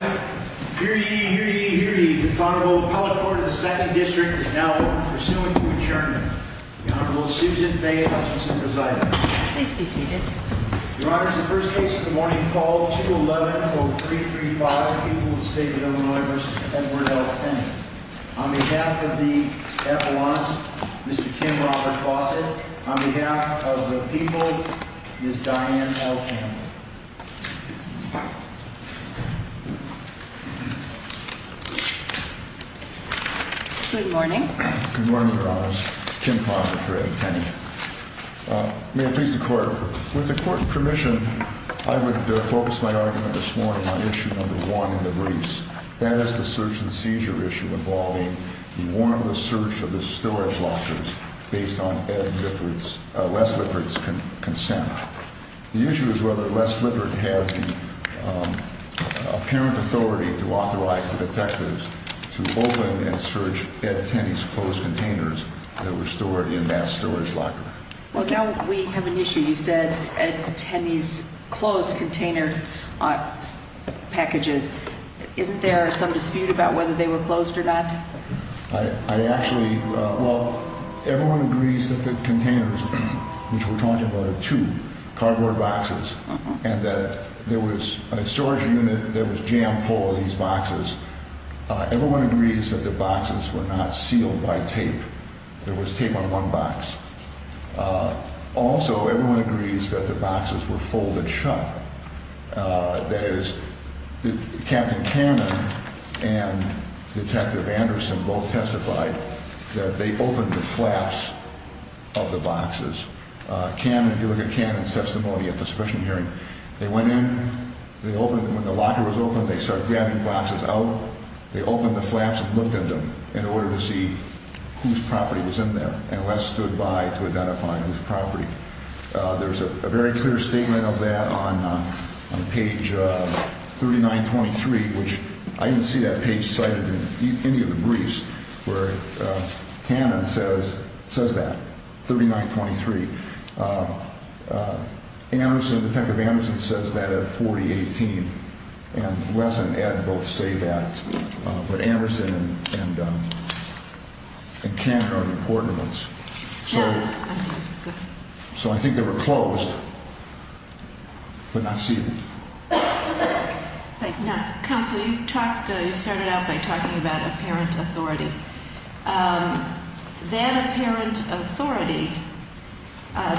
Hear ye, hear ye, hear ye, this Honorable Appellate Court of the 2nd District is now open for suing to adjournment. The Honorable Susan Faye Hutchinson presiding. Please be seated. Your Honors, the first case of the morning called 211-0335, People of the State of Illinois v. Edward L. Tenney. On behalf of the Appellant, Mr. Kim Robert Fawcett. On behalf of the People, Ms. Diane L. Campbell. Good morning. Good morning, Your Honors. Kim Fawcett for Ed Tenney. May it please the Court, with the Court's permission, I would focus my argument this morning on issue number one in the briefs. That is the search and seizure issue involving the warrantless search of the storage lockers based on Ed Lippert's, Les Lippert's consent. The issue is whether Les Lippert had the apparent authority to authorize the detectives to open and search Ed Tenney's closed containers that were stored in that storage locker. Well, now we have an issue. You said Ed Tenney's closed container packages. Isn't there some dispute about whether they were closed or not? I actually, well, everyone agrees that the containers, which we're talking about are two cardboard boxes, and that there was a storage unit that was jammed full of these boxes. Everyone agrees that the boxes were not sealed by tape. There was tape on one box. Also, everyone agrees that the boxes were folded shut. That is, Captain Cannon and Detective Anderson both testified that they opened the flaps of the boxes. If you look at Cannon's testimony at the suppression hearing, they went in, they opened them. When the locker was open, they started dabbing boxes out. They opened the flaps and looked at them in order to see whose property was in there, and Les stood by to identify whose property. There's a very clear statement of that on page 3923, which I didn't see that page cited in any of the briefs, where Cannon says that, 3923. Detective Anderson says that at 4018, and Les and Ed both say that. But Anderson and Cannon are important ones. So I think they were closed, but not sealed. Counsel, you started out by talking about apparent authority. That apparent authority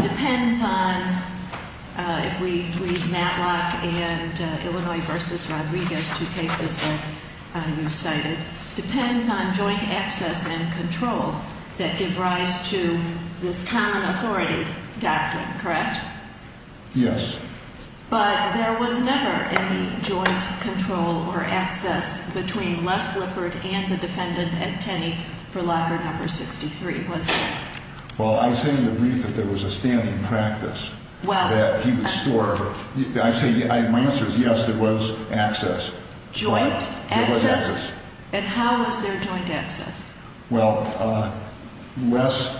depends on, if we read Matlock and Illinois v. Rodriguez, two cases that you cited, depends on joint access and control that give rise to this common authority doctrine, correct? Yes. But there was never any joint control or access between Les Lippard and the defendant, Ed Tenney, for locker number 63, was there? Well, I say in the brief that there was a standing practice that he would store. My answer is yes, there was access. Joint access? There was access. And how was there joint access? Well, Les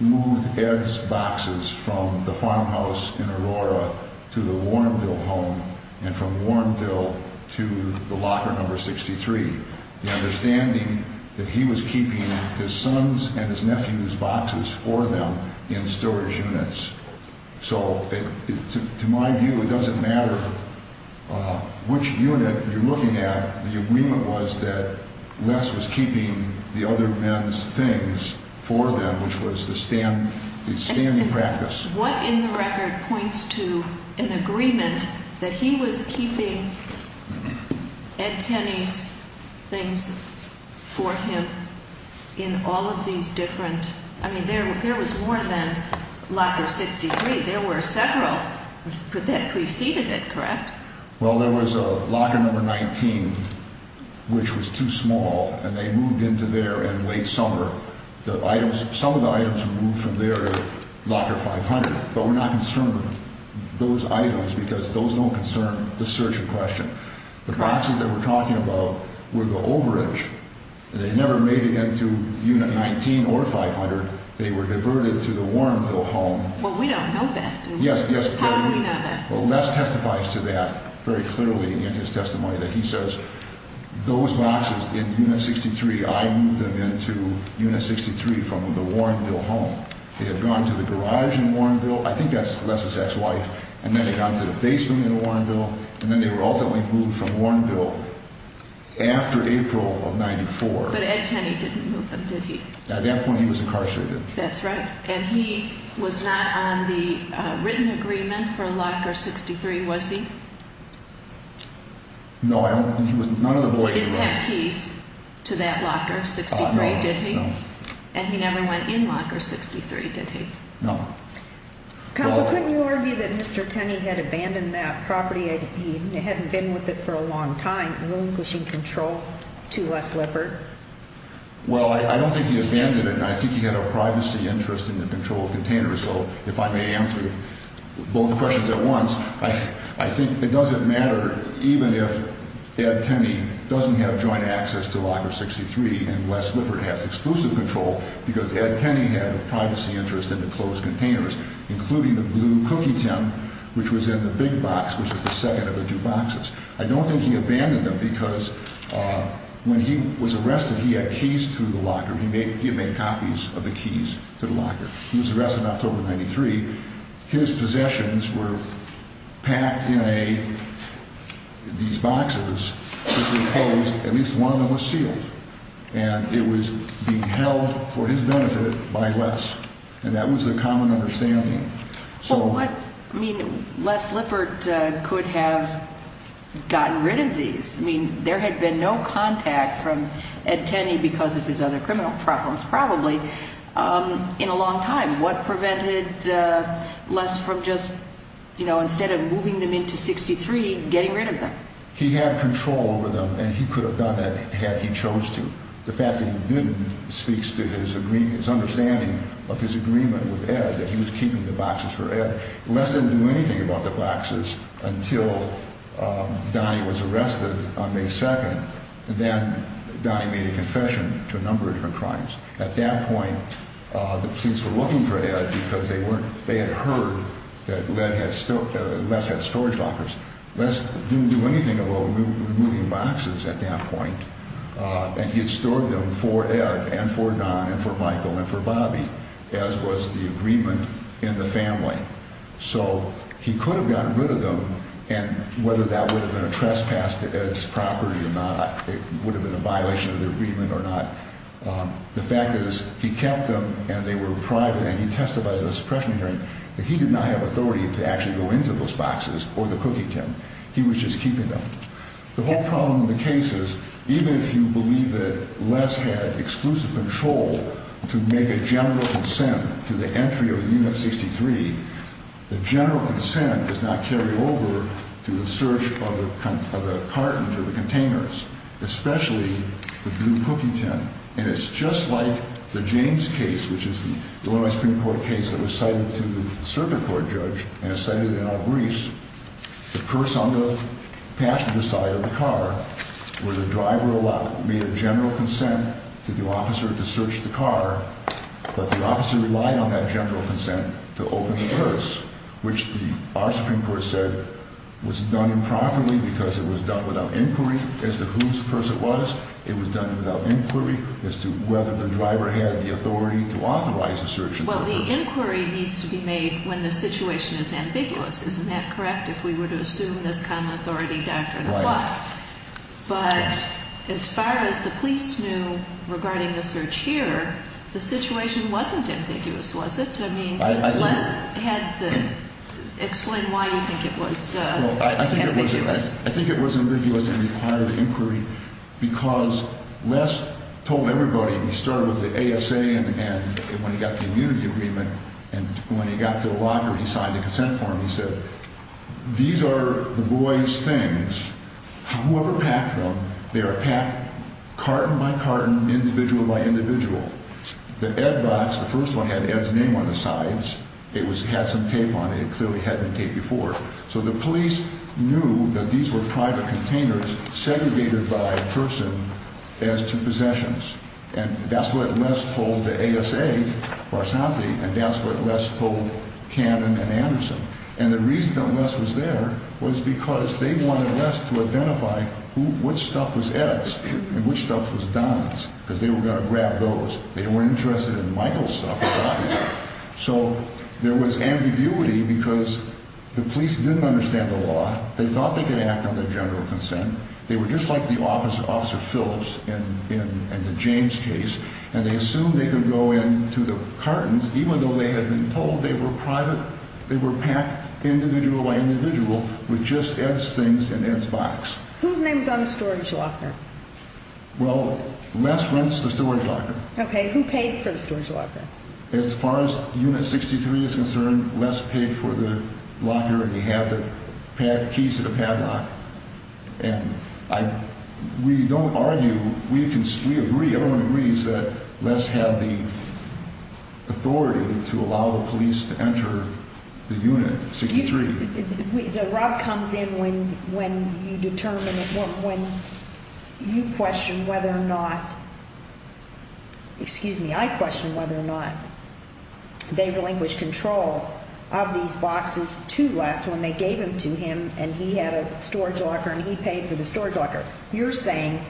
moved Ed's boxes from the farmhouse in Aurora to the Warrenville home and from Warrenville to the locker number 63. The understanding that he was keeping his son's and his nephew's boxes for them in storage units. So to my view, it doesn't matter which unit you're looking at. The agreement was that Les was keeping the other men's things for them, which was the standing practice. What in the record points to an agreement that he was keeping Ed Tenney's things for him in all of these different – I mean, there was more than locker 63. There were several that preceded it, correct? Well, there was locker number 19, which was too small, and they moved into there in late summer. Some of the items were moved from there to locker 500, but we're not concerned with those items because those don't concern the search in question. The boxes that we're talking about were the overage. They never made it into unit 19 or 500. They were diverted to the Warrenville home. Well, we don't know that. Yes, yes. How do we know that? Well, Les testifies to that very clearly in his testimony that he says those boxes in unit 63, I moved them into unit 63 from the Warrenville home. They had gone to the garage in Warrenville. I think that's Les's ex-wife. And then they got to the basement in Warrenville, and then they were ultimately moved from Warrenville after April of 1994. But Ed Tenney didn't move them, did he? At that point, he was incarcerated. That's right. And he was not on the written agreement for locker 63, was he? No, I don't think he was. None of the boys were on it. He didn't have keys to that locker 63, did he? No, no. And he never went in locker 63, did he? No. Counsel, couldn't you argue that Mr. Tenney had abandoned that property? He hadn't been with it for a long time, relinquishing control to Les Lippard? Well, I don't think he abandoned it, and I think he had a privacy interest in the control of the container. So if I may answer both questions at once, I think it doesn't matter even if Ed Tenney doesn't have joint access to locker 63 and Les Lippard has exclusive control because Ed Tenney had a privacy interest in the closed containers, including the blue cookie tin, which was in the big box, which was the second of the two boxes. I don't think he abandoned them because when he was arrested, he had keys to the locker. He had made copies of the keys to the locker. He was arrested on October 93. His possessions were packed in these boxes, which were closed. At least one of them was sealed, and it was being held for his benefit by Les, and that was the common understanding. Well, I mean, Les Lippard could have gotten rid of these. I mean, there had been no contact from Ed Tenney because of his other criminal problems probably in a long time. What prevented Les from just, you know, instead of moving them into 63, getting rid of them? He had control over them, and he could have done that had he chose to. The fact that he didn't speaks to his understanding of his agreement with Ed, that he was keeping the boxes for Ed. Les didn't do anything about the boxes until Donnie was arrested on May 2, and then Donnie made a confession to a number of her crimes. At that point, the police were looking for Ed because they had heard that Les had storage lockers. Les didn't do anything about removing boxes at that point, and he had stored them for Ed and for Don and for Michael and for Bobby, as was the agreement in the family. So he could have gotten rid of them, and whether that would have been a trespass to Ed's property or not, it would have been a violation of the agreement or not. The fact is he kept them, and they were private, and he testified in a suppression hearing that he did not have authority to actually go into those boxes or the cooking tin. He was just keeping them. The whole problem in the case is even if you believe that Les had exclusive control to make a general consent to the entry of Unit 63, the general consent does not carry over to the search of the cartons or the containers, especially the blue cooking tin. And it's just like the James case, which is the Illinois Supreme Court case that was cited to the circuit court judge and is cited in our briefs, the purse on the passenger side of the car where the driver made a general consent to the officer to search the car, but the officer relied on that general consent to open the purse, which our Supreme Court said was done improperly because it was done without inquiry as to whose purse it was. It was done without inquiry as to whether the driver had the authority to authorize the search of the purse. Well, the inquiry needs to be made when the situation is ambiguous. Isn't that correct, if we were to assume this common authority doctrine applies? Right. But as far as the police knew regarding the search here, the situation wasn't ambiguous, was it? I mean, Les had the – explain why you think it was ambiguous. I think it was ambiguous and required inquiry because Les told everybody, he started with the ASA and when he got the immunity agreement, and when he got to the locker, he signed the consent form, he said, these are the boys' things. Whoever packed them, they are packed carton by carton, individual by individual. The Ed box, the first one had Ed's name on the sides. It had some tape on it. It clearly had been taped before. So the police knew that these were private containers segregated by person as to possessions. And that's what Les told the ASA, Barsanti, and that's what Les told Cannon and Anderson. And the reason that Les was there was because they wanted Les to identify which stuff was Ed's and which stuff was Don's, because they were going to grab those. They weren't interested in Michael's stuff, obviously. So there was ambiguity because the police didn't understand the law. They thought they could act on their general consent. They were just like the Officer Phillips in the James case, and they assumed they could go into the cartons, even though they had been told they were private – they were packed individual by individual with just Ed's things and Ed's box. Whose name was on the storage locker? Well, Les rents the storage locker. Okay. Who paid for the storage locker? As far as Unit 63 is concerned, Les paid for the locker, and he had the keys to the padlock. And we don't argue – we agree, everyone agrees that Les had the authority to allow the police to enter the Unit 63. Rob comes in when you question whether or not – excuse me, I question whether or not they relinquished control of these boxes to Les when they gave them to him and he had a storage locker and he paid for the storage locker. You're saying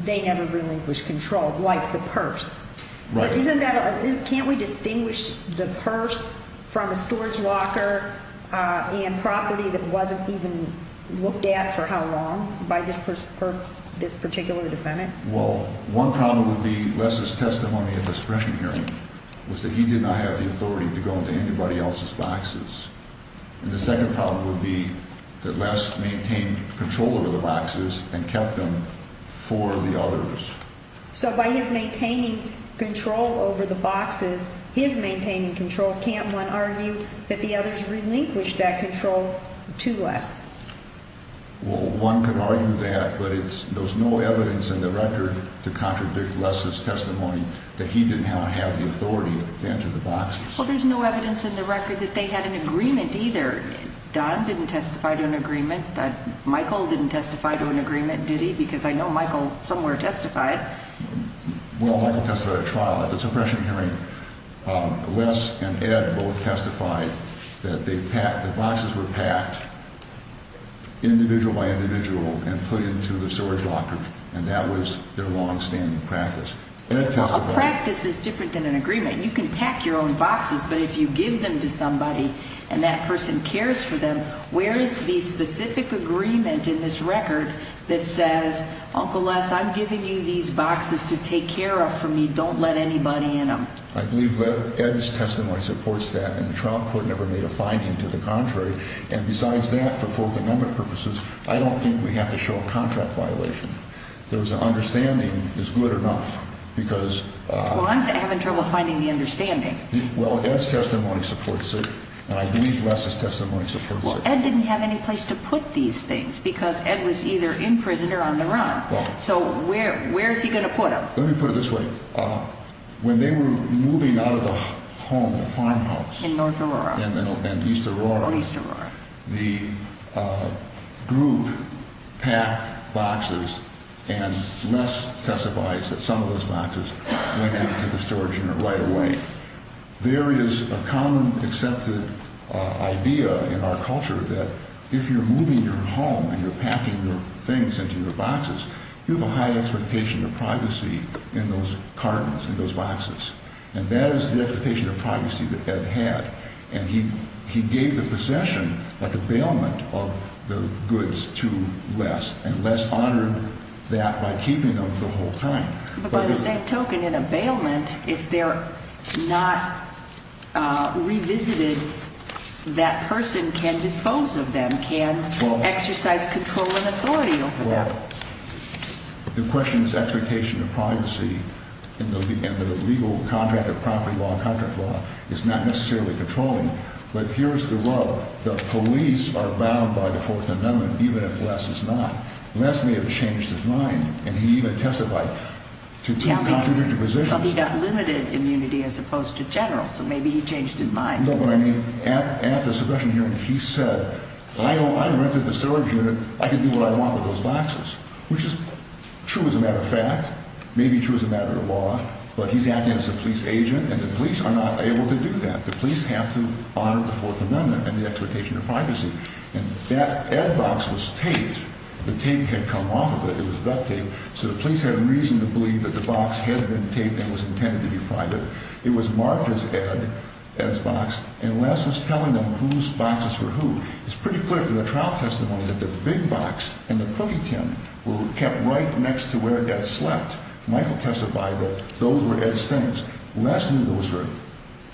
they never relinquished control, like the purse. Right. Isn't that – can't we distinguish the purse from a storage locker and property that wasn't even looked at for how long by this particular defendant? Well, one problem would be Les' testimony at the suppression hearing was that he did not have the authority to go into anybody else's boxes. And the second problem would be that Les maintained control of the boxes and kept them for the others. So by his maintaining control over the boxes, his maintaining control, can't one argue that the others relinquished that control to Les? Well, one could argue that, but there's no evidence in the record to contradict Les' testimony that he did not have the authority to enter the boxes. Well, there's no evidence in the record that they had an agreement either. Don didn't testify to an agreement. Michael didn't testify to an agreement, did he? Because I know Michael somewhere testified. Well, Michael testified at trial at the suppression hearing. Les and Ed both testified that they packed – the boxes were packed individual by individual and put into the storage locker. And that was their longstanding practice. Well, a practice is different than an agreement. You can pack your own boxes, but if you give them to somebody and that person cares for them, where is the specific agreement in this record that says, Uncle Les, I'm giving you these boxes to take care of for me. Don't let anybody in them. I believe Ed's testimony supports that. And the trial court never made a finding to the contrary. And besides that, for both and other purposes, I don't think we have to show a contract violation. There's an understanding is good enough because – Well, Ed's testimony supports it, and I believe Les' testimony supports it. Well, Ed didn't have any place to put these things because Ed was either in prison or on the run. So where is he going to put them? Let me put it this way. When they were moving out of the home, the farmhouse – In North Aurora. In East Aurora. Oh, East Aurora. The group packed boxes, and Les testified that some of those boxes went into the storage unit right away. There is a common accepted idea in our culture that if you're moving your home and you're packing your things into your boxes, you have a high expectation of privacy in those cartons, in those boxes. And that is the expectation of privacy that Ed had. And he gave the possession of the bailment of the goods to Les, and Les honored that by keeping them the whole time. But by the same token, in a bailment, if they're not revisited, that person can dispose of them, can exercise control and authority over them. The question is expectation of privacy, and the legal contract of property law and contract law is not necessarily controlling. But here's the rub. The police are bound by the Fourth Amendment, even if Les is not. Les may have changed his mind, and he even testified to two contradictory positions. Well, he got limited immunity as opposed to general, so maybe he changed his mind. At the suppression hearing, he said, I rented the storage unit. I can do what I want with those boxes, which is true as a matter of fact, maybe true as a matter of law. But he's acting as a police agent, and the police are not able to do that. The police have to honor the Fourth Amendment and the expectation of privacy. And Ed's box was taped. The tape had come off of it. It was duct tape. So the police had reason to believe that the box had been taped and was intended to be private. It was marked as Ed, Ed's box, and Les was telling them whose boxes were who. It's pretty clear from the trial testimony that the big box and the cookie tin were kept right next to where Ed slept. Michael testified that those were Ed's things. Les knew those were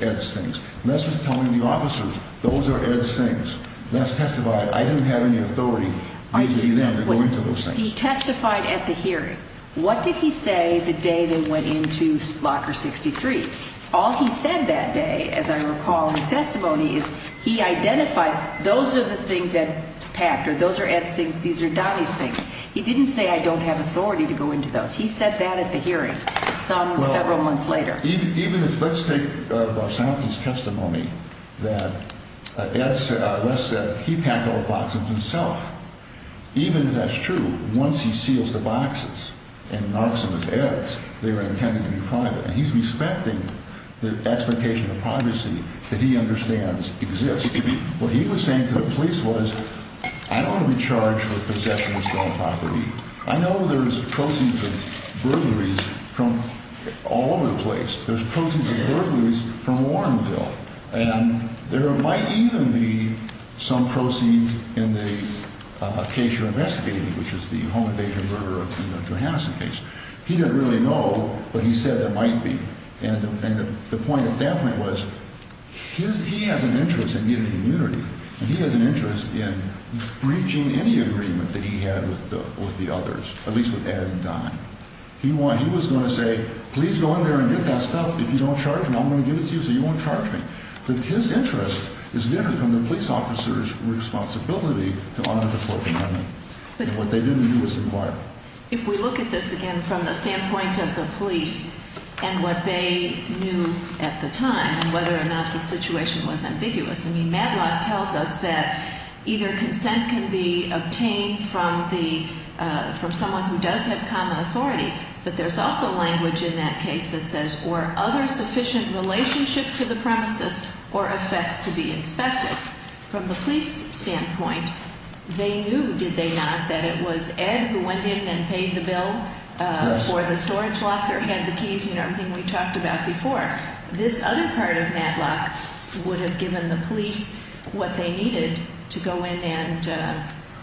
Ed's things. Les was telling the officers, those are Ed's things. Les testified, I didn't have any authority reasoning then to go into those things. He testified at the hearing. What did he say the day they went into Locker 63? All he said that day, as I recall in his testimony, is he identified those are the things Ed's packed, or those are Ed's things, these are Donnie's things. He didn't say I don't have authority to go into those. He said that at the hearing, some several months later. Even if, let's take Basanti's testimony that Ed, Les said he packed all the boxes himself. Even if that's true, once he seals the boxes and marks them as Ed's, they were intended to be private. And he's respecting the expectation of privacy that he understands exists. What he was saying to the police was I don't want to be charged with possession of stolen property. I know there's proceeds of burglaries from all over the place. There's proceeds of burglaries from Warrenville. And there might even be some proceeds in the case you're investigating, which is the home invasion murder of Tina Johansson case. He didn't really know, but he said there might be. And the point at that point was he has an interest in getting immunity. He has an interest in breaching any agreement that he had with the others, at least with Ed and Don. He was going to say, please go in there and get that stuff. If you don't charge me, I'm going to give it to you so you won't charge me. But his interest is different from the police officer's responsibility to honor the Corp of Army. And what they didn't do was inquire. If we look at this again from the standpoint of the police and what they knew at the time and whether or not the situation was ambiguous, I mean, Matlock tells us that either consent can be obtained from someone who does have common authority. But there's also language in that case that says, or other sufficient relationship to the premises or effects to be inspected. From the police standpoint, they knew, did they not, that it was Ed who went in and paid the bill for the storage locker, had the keys, everything we talked about before. This other part of Matlock would have given the police what they needed to go in and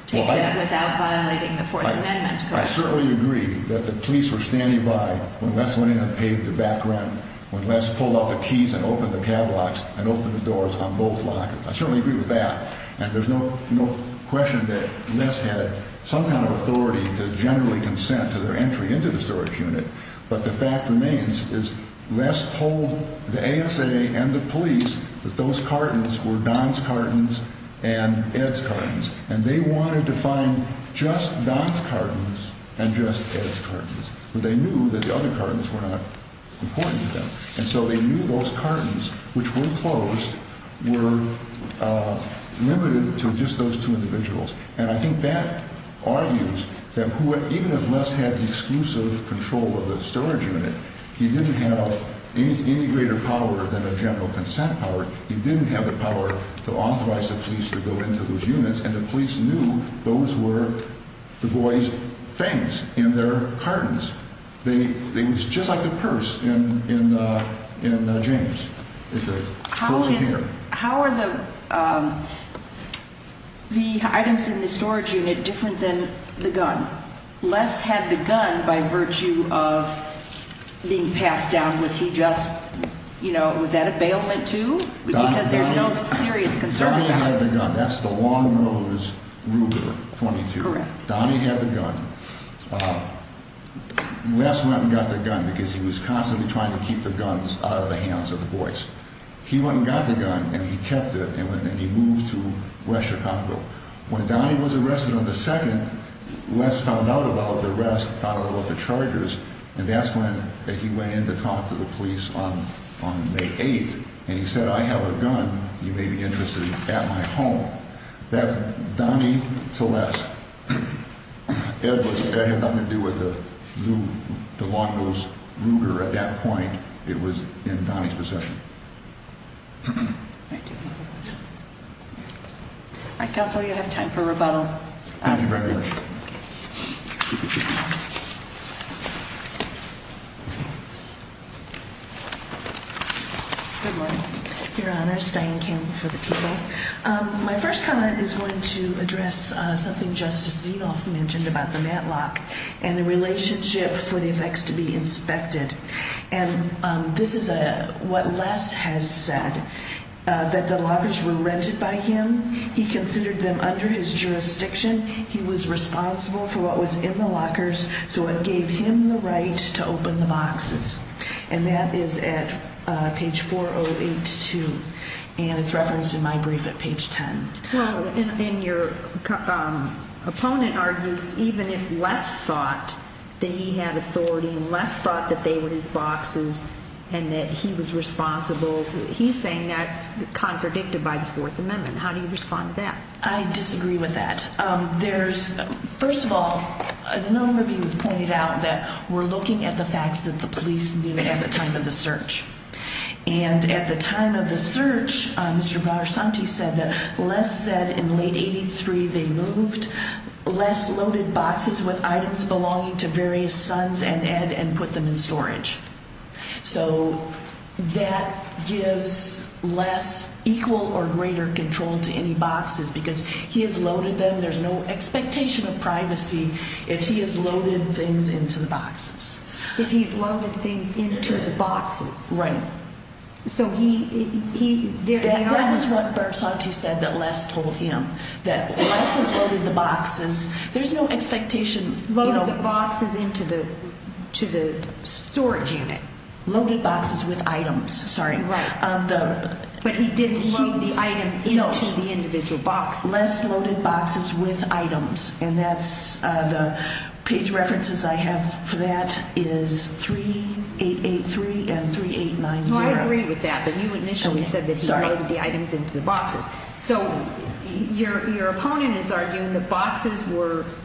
take that without violating the Fourth Amendment. I certainly agree that the police were standing by when Les went in and paid the back rent, when Les pulled out the keys and opened the catalogs and opened the doors on both lockers. I certainly agree with that. And there's no question that Les had some kind of authority to generally consent to their entry into the storage unit. But the fact remains is Les told the ASA and the police that those cartons were Don's cartons and Ed's cartons. And they wanted to find just Don's cartons and just Ed's cartons. But they knew that the other cartons were not important to them. And so they knew those cartons, which were closed, were limited to just those two individuals. And I think that argues that even if Les had the exclusive control of the storage unit, he didn't have any greater power than a general consent power. He didn't have the power to authorize the police to go into those units. And the police knew those were the boys' things in their cartons. It was just like the purse in James. How are the items in the storage unit different than the gun? Les had the gun by virtue of being passed down. Was he just, you know, was that a bailment too? Because there's no serious concern about it. Donnie had the gun. That's the long nose Ruger .22. Correct. Donnie had the gun. Les went and got the gun because he was constantly trying to keep the guns out of the hands of the boys. He went and got the gun, and he kept it, and he moved to West Chicago. When Donnie was arrested on the 2nd, Les found out about the arrest, found out about the chargers, and that's when he went in to talk to the police on May 8th, and he said, I have a gun, you may be interested, at my home. That's Donnie to Les. It had nothing to do with the long nose Ruger at that point. It was in Donnie's possession. All right, Counsel, you have time for rebuttal. Thank you very much. Good morning, Your Honor. Stine Kim for the people. My first comment is going to address something Justice Zinoff mentioned about the Matlock and the relationship for the effects to be inspected. This is what Les has said, that the lockers were rented by him. He considered them under his jurisdiction. He was responsible for what was in the lockers, so it gave him the right to open the boxes. And that is at page 4082, and it's referenced in my brief at page 10. Well, and your opponent argues even if Les thought that he had authority, and Les thought that they were his boxes and that he was responsible, he's saying that's contradicted by the Fourth Amendment. How do you respond to that? I disagree with that. First of all, Zinoff pointed out that we're looking at the facts that the police knew at the time of the search. And at the time of the search, Mr. Varsanti said that Les said in late 1983 they moved Les' loaded boxes with items belonging to various sons and Ed and put them in storage. So that gives Les equal or greater control to any boxes because he has loaded them. There's no expectation of privacy if he has loaded things into the boxes. If he's loaded things into the boxes. Right. So he – That was what Varsanti said that Les told him, that Les has loaded the boxes. There's no expectation – Loaded the boxes into the storage unit. Loaded boxes with items. Sorry. Right. But he didn't load the items into the individual boxes. Les loaded boxes with items. And that's – the page references I have for that is 3883 and 3890. Well, I agree with that. But you initially said that he loaded the items into the boxes. So your opponent is arguing that boxes were –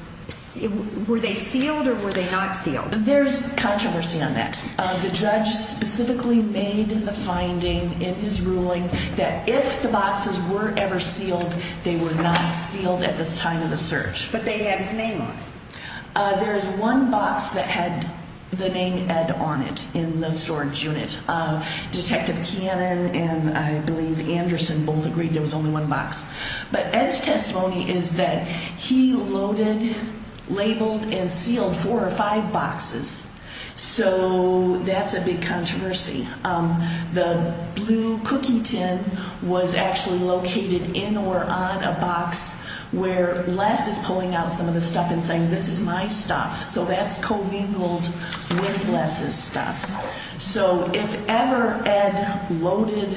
were they sealed or were they not sealed? There's controversy on that. The judge specifically made the finding in his ruling that if the boxes were ever sealed, they were not sealed at the time of the search. But they had his name on them. There is one box that had the name Ed on it in the storage unit. Detective Cannon and, I believe, Anderson both agreed there was only one box. But Ed's testimony is that he loaded, labeled, and sealed four or five boxes. So that's a big controversy. The blue cookie tin was actually located in or on a box where Les is pulling out some of the stuff and saying, this is my stuff. So that's co-mingled with Les's stuff. So if ever Ed loaded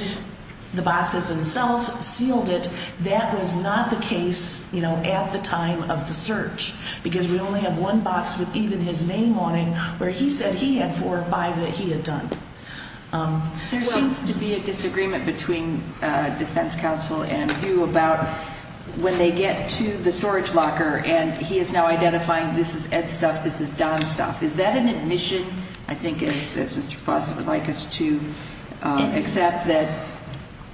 the boxes himself, sealed it, that was not the case, you know, at the time of the search. Because we only have one box with even his name on it where he said he had four or five that he had done. There seems to be a disagreement between defense counsel and you about when they get to the storage locker and he is now identifying this is Ed's stuff, this is Don's stuff. Is that an admission, I think, as Mr. Fossett would like us to accept, that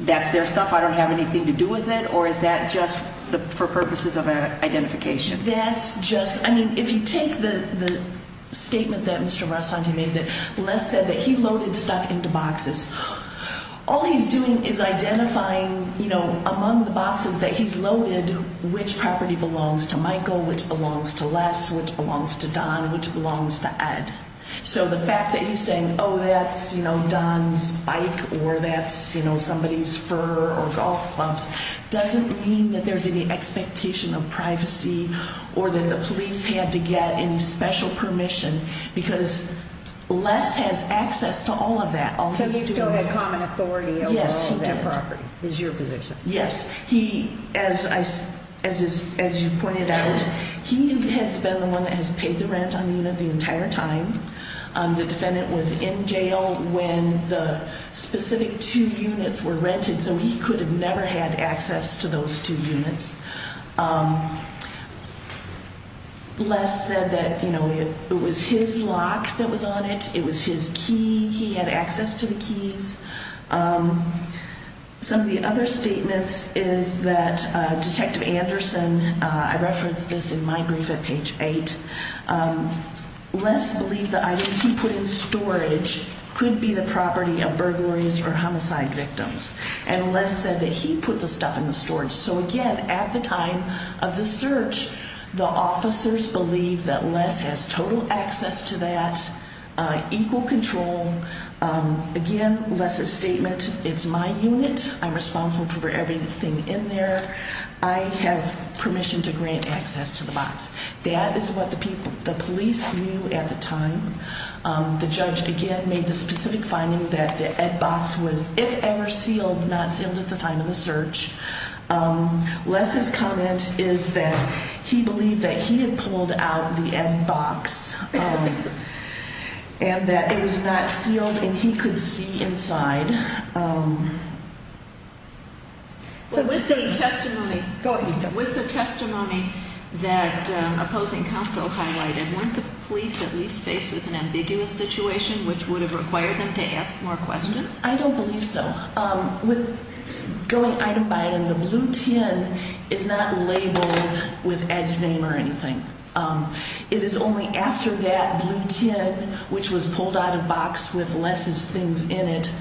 that's their stuff, I don't have anything to do with it, or is that just for purposes of identification? That's just, I mean, if you take the statement that Mr. Rossanti made, that Les said that he loaded stuff into boxes, all he's doing is identifying, you know, among the boxes that he's loaded which property belongs to Michael, which belongs to Les, which belongs to Don, which belongs to Ed. So the fact that he's saying, oh, that's, you know, Don's bike or that's, you know, somebody's fur or golf clubs doesn't mean that there's any expectation of privacy or that the police had to get any special permission because Les has access to all of that. So you still have common authority over all of that property is your position? Yes. He, as you pointed out, he has been the one that has paid the rent on the unit the entire time. The defendant was in jail when the specific two units were rented, so he could have never had access to those two units. Les said that, you know, it was his lock that was on it, it was his key, he had access to the keys. Some of the other statements is that Detective Anderson, I referenced this in my brief at page 8, Les believed the items he put in storage could be the property of burglaries or homicide victims, and Les said that he put the stuff in the storage. So, again, at the time of the search, the officers believe that Les has total access to that, equal control. Again, Les's statement, it's my unit, I'm responsible for everything in there, I have permission to grant access to the box. That is what the police knew at the time. The judge, again, made the specific finding that the ad box was, if ever sealed, not sealed at the time of the search. Les's comment is that he believed that he had pulled out the ad box and that it was not sealed and he could see inside. With the testimony that opposing counsel highlighted, weren't the police at least faced with an ambiguous situation which would have required them to ask more questions? I don't believe so. With going item by item, the blue tin is not labeled with Ed's name or anything. It is only after that blue tin, which was pulled out of the box with Les's things in it,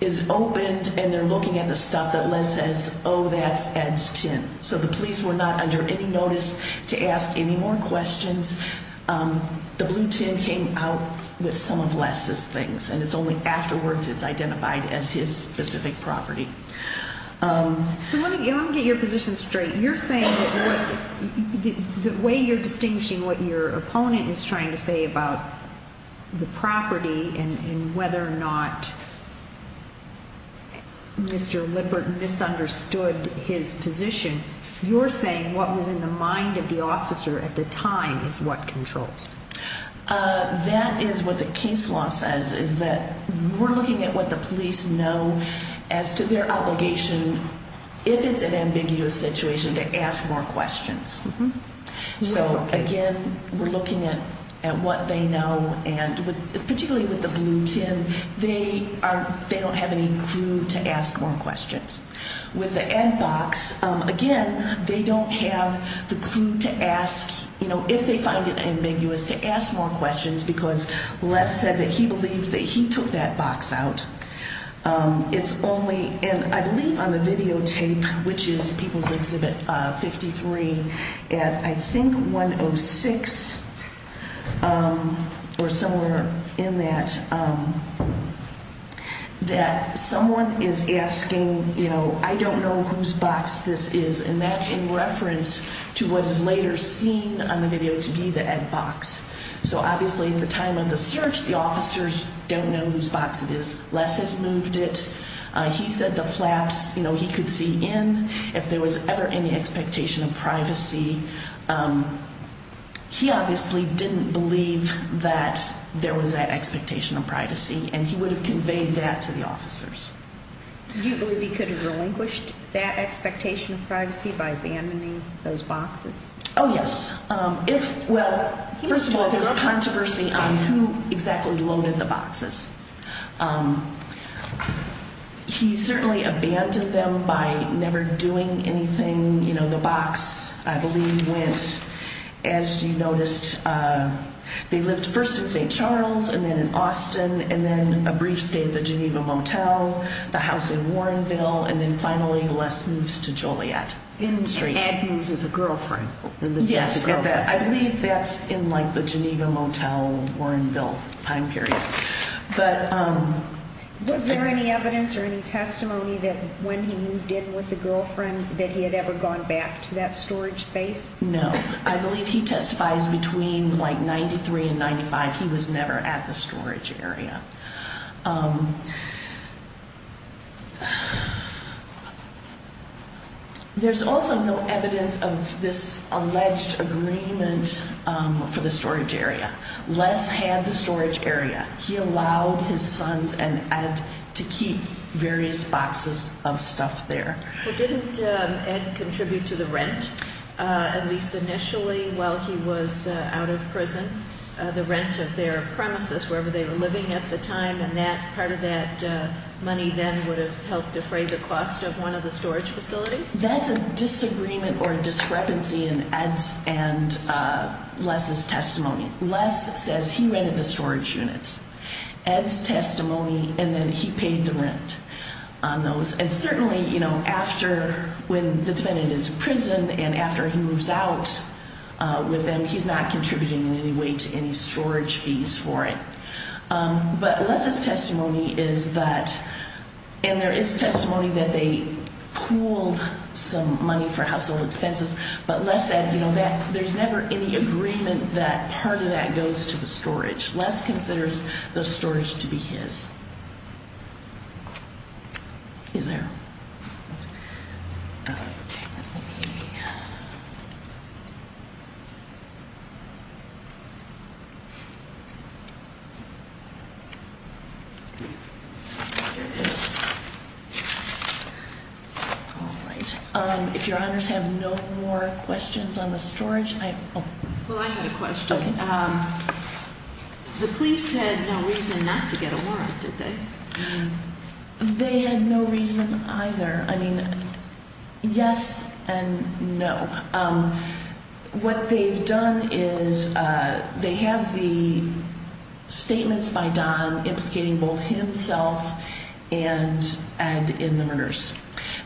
is opened and they're looking at the stuff that Les says, oh, that's Ed's tin. So the police were not under any notice to ask any more questions. The blue tin came out with some of Les's things and it's only afterwards it's identified as his specific property. So let me get your position straight. You're saying that the way you're distinguishing what your opponent is trying to say about the property and whether or not Mr. Lippert misunderstood his position, you're saying what was in the mind of the officer at the time is what controls. That is what the case law says, is that we're looking at what the police know as to their obligation. If it's an ambiguous situation, to ask more questions. So, again, we're looking at what they know, and particularly with the blue tin, they don't have any clue to ask more questions. With the Ed box, again, they don't have the clue to ask, if they find it ambiguous, to ask more questions because Les said that he believed that he took that box out. It's only, and I believe on the videotape, which is People's Exhibit 53 at I think 106 or somewhere in that, that someone is asking, you know, I don't know whose box this is, and that's in reference to what is later seen on the video to be the Ed box. So, obviously, at the time of the search, the officers don't know whose box it is. Les has moved it. He said the flaps, you know, he could see in. If there was ever any expectation of privacy, he obviously didn't believe that there was that expectation of privacy, and he would have conveyed that to the officers. Do you believe he could have relinquished that expectation of privacy by abandoning those boxes? Oh, yes. Well, first of all, there's controversy on who exactly loaded the boxes. He certainly abandoned them by never doing anything. You know, the box, I believe, went, as you noticed, they lived first in St. Charles and then in Austin and then a brief stay at the Geneva Motel, the house in Warrenville, and then finally Les moves to Joliet. And Ed moves with a girlfriend. Yes. I believe that's in, like, the Geneva Motel, Warrenville time period. Was there any evidence or any testimony that when he moved in with a girlfriend that he had ever gone back to that storage space? No. I believe he testifies between, like, 93 and 95 he was never at the storage area. There's also no evidence of this alleged agreement for the storage area. Les had the storage area. He allowed his sons and Ed to keep various boxes of stuff there. Well, didn't Ed contribute to the rent, at least initially while he was out of prison, the rent of their premises, wherever they were living at the time, and that part of that money then would have helped defray the cost of one of the storage facilities? That's a disagreement or a discrepancy in Ed's and Les's testimony. Les says he rented the storage units. Ed's testimony, and then he paid the rent on those. And certainly, you know, after when the defendant is in prison and after he moves out with them, he's not contributing in any way to any storage fees for it. But Les's testimony is that, and there is testimony that they pooled some money for household expenses, but Les said, you know, that there's never any agreement that part of that goes to the storage. Les considers the storage to be his. Is there? All right. If Your Honors have no more questions on the storage. Well, I have a question. Okay. The police had no reason not to get a warrant, did they? They had no reason either. I mean, yes and no. What they've done is they have the statements by Don implicating both himself and in the murders.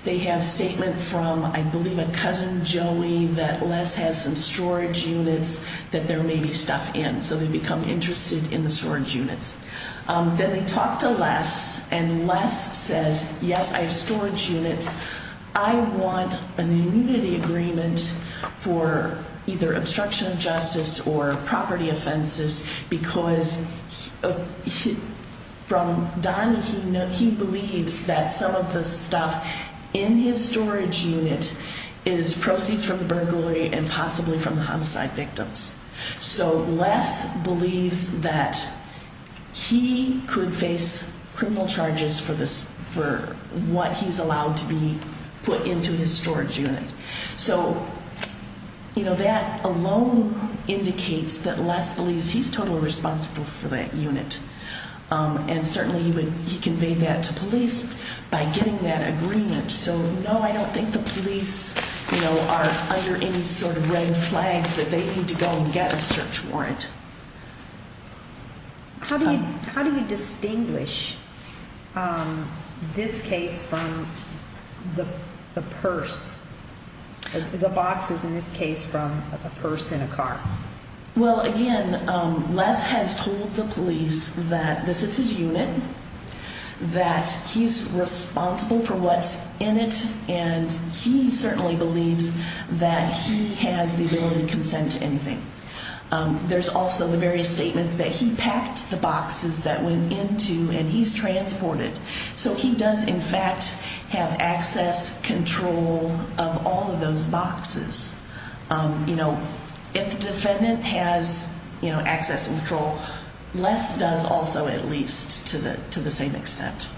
They have statement from, I believe, a cousin, Joey, that Les has some storage units that there may be stuff in. So they become interested in the storage units. Then they talk to Les, and Les says, yes, I have storage units. I want an immunity agreement for either obstruction of justice or property offenses because from Don, he believes that some of the stuff in his storage unit is proceeds from the burglary and possibly from the homicide victims. So Les believes that he could face criminal charges for what he's allowed to be put into his storage unit. So, you know, that alone indicates that Les believes he's totally responsible for that unit. And certainly he conveyed that to police by getting that agreement. So, no, I don't think the police, you know, are under any sort of red flags that they need to go and get a search warrant. How do you distinguish this case from the purse, the boxes in this case from a purse in a car? Well, again, Les has told the police that this is his unit, that he's responsible for what's in it, and he certainly believes that he has the ability to consent to anything. There's also the various statements that he packed the boxes that went into and he's transported. So he does, in fact, have access control of all of those boxes. You know, if the defendant has, you know, access and control, Les does also at least to the same extent.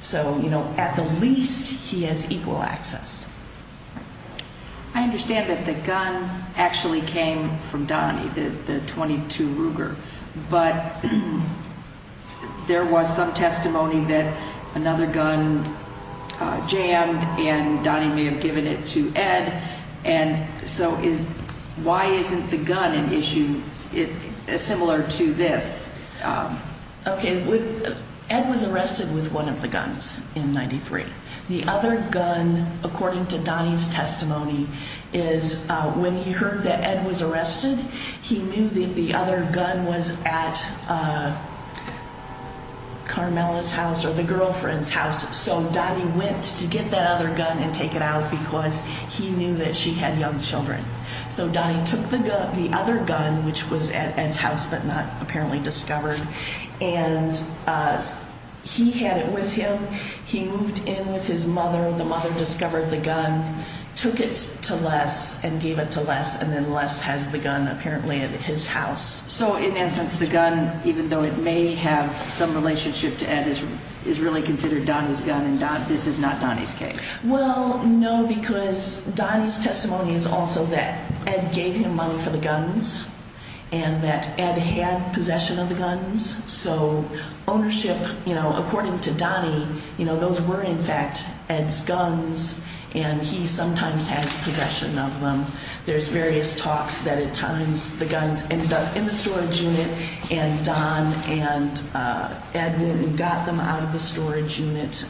So, you know, at the least he has equal access. I understand that the gun actually came from Donnie, the .22 Ruger, but there was some testimony that another gun jammed and Donnie may have given it to Ed. And so why isn't the gun an issue similar to this? Okay. Ed was arrested with one of the guns in 93. The other gun, according to Donnie's testimony, is when he heard that Ed was arrested, he knew that the other gun was at Carmela's house or the girlfriend's house. So Donnie went to get that other gun and take it out because he knew that she had young children. So Donnie took the other gun, which was at Ed's house but not apparently discovered, and he had it with him. He moved in with his mother. The mother discovered the gun, took it to Les and gave it to Les, and then Les has the gun apparently at his house. So in that sense, the gun, even though it may have some relationship to Ed, is really considered Donnie's gun and this is not Donnie's case? Well, no, because Donnie's testimony is also that Ed gave him money for the guns and that Ed had possession of the guns. So ownership, according to Donnie, those were in fact Ed's guns and he sometimes has possession of them. There's various talks that at times the guns ended up in the storage unit and Don and Ed went and got them out of the storage unit.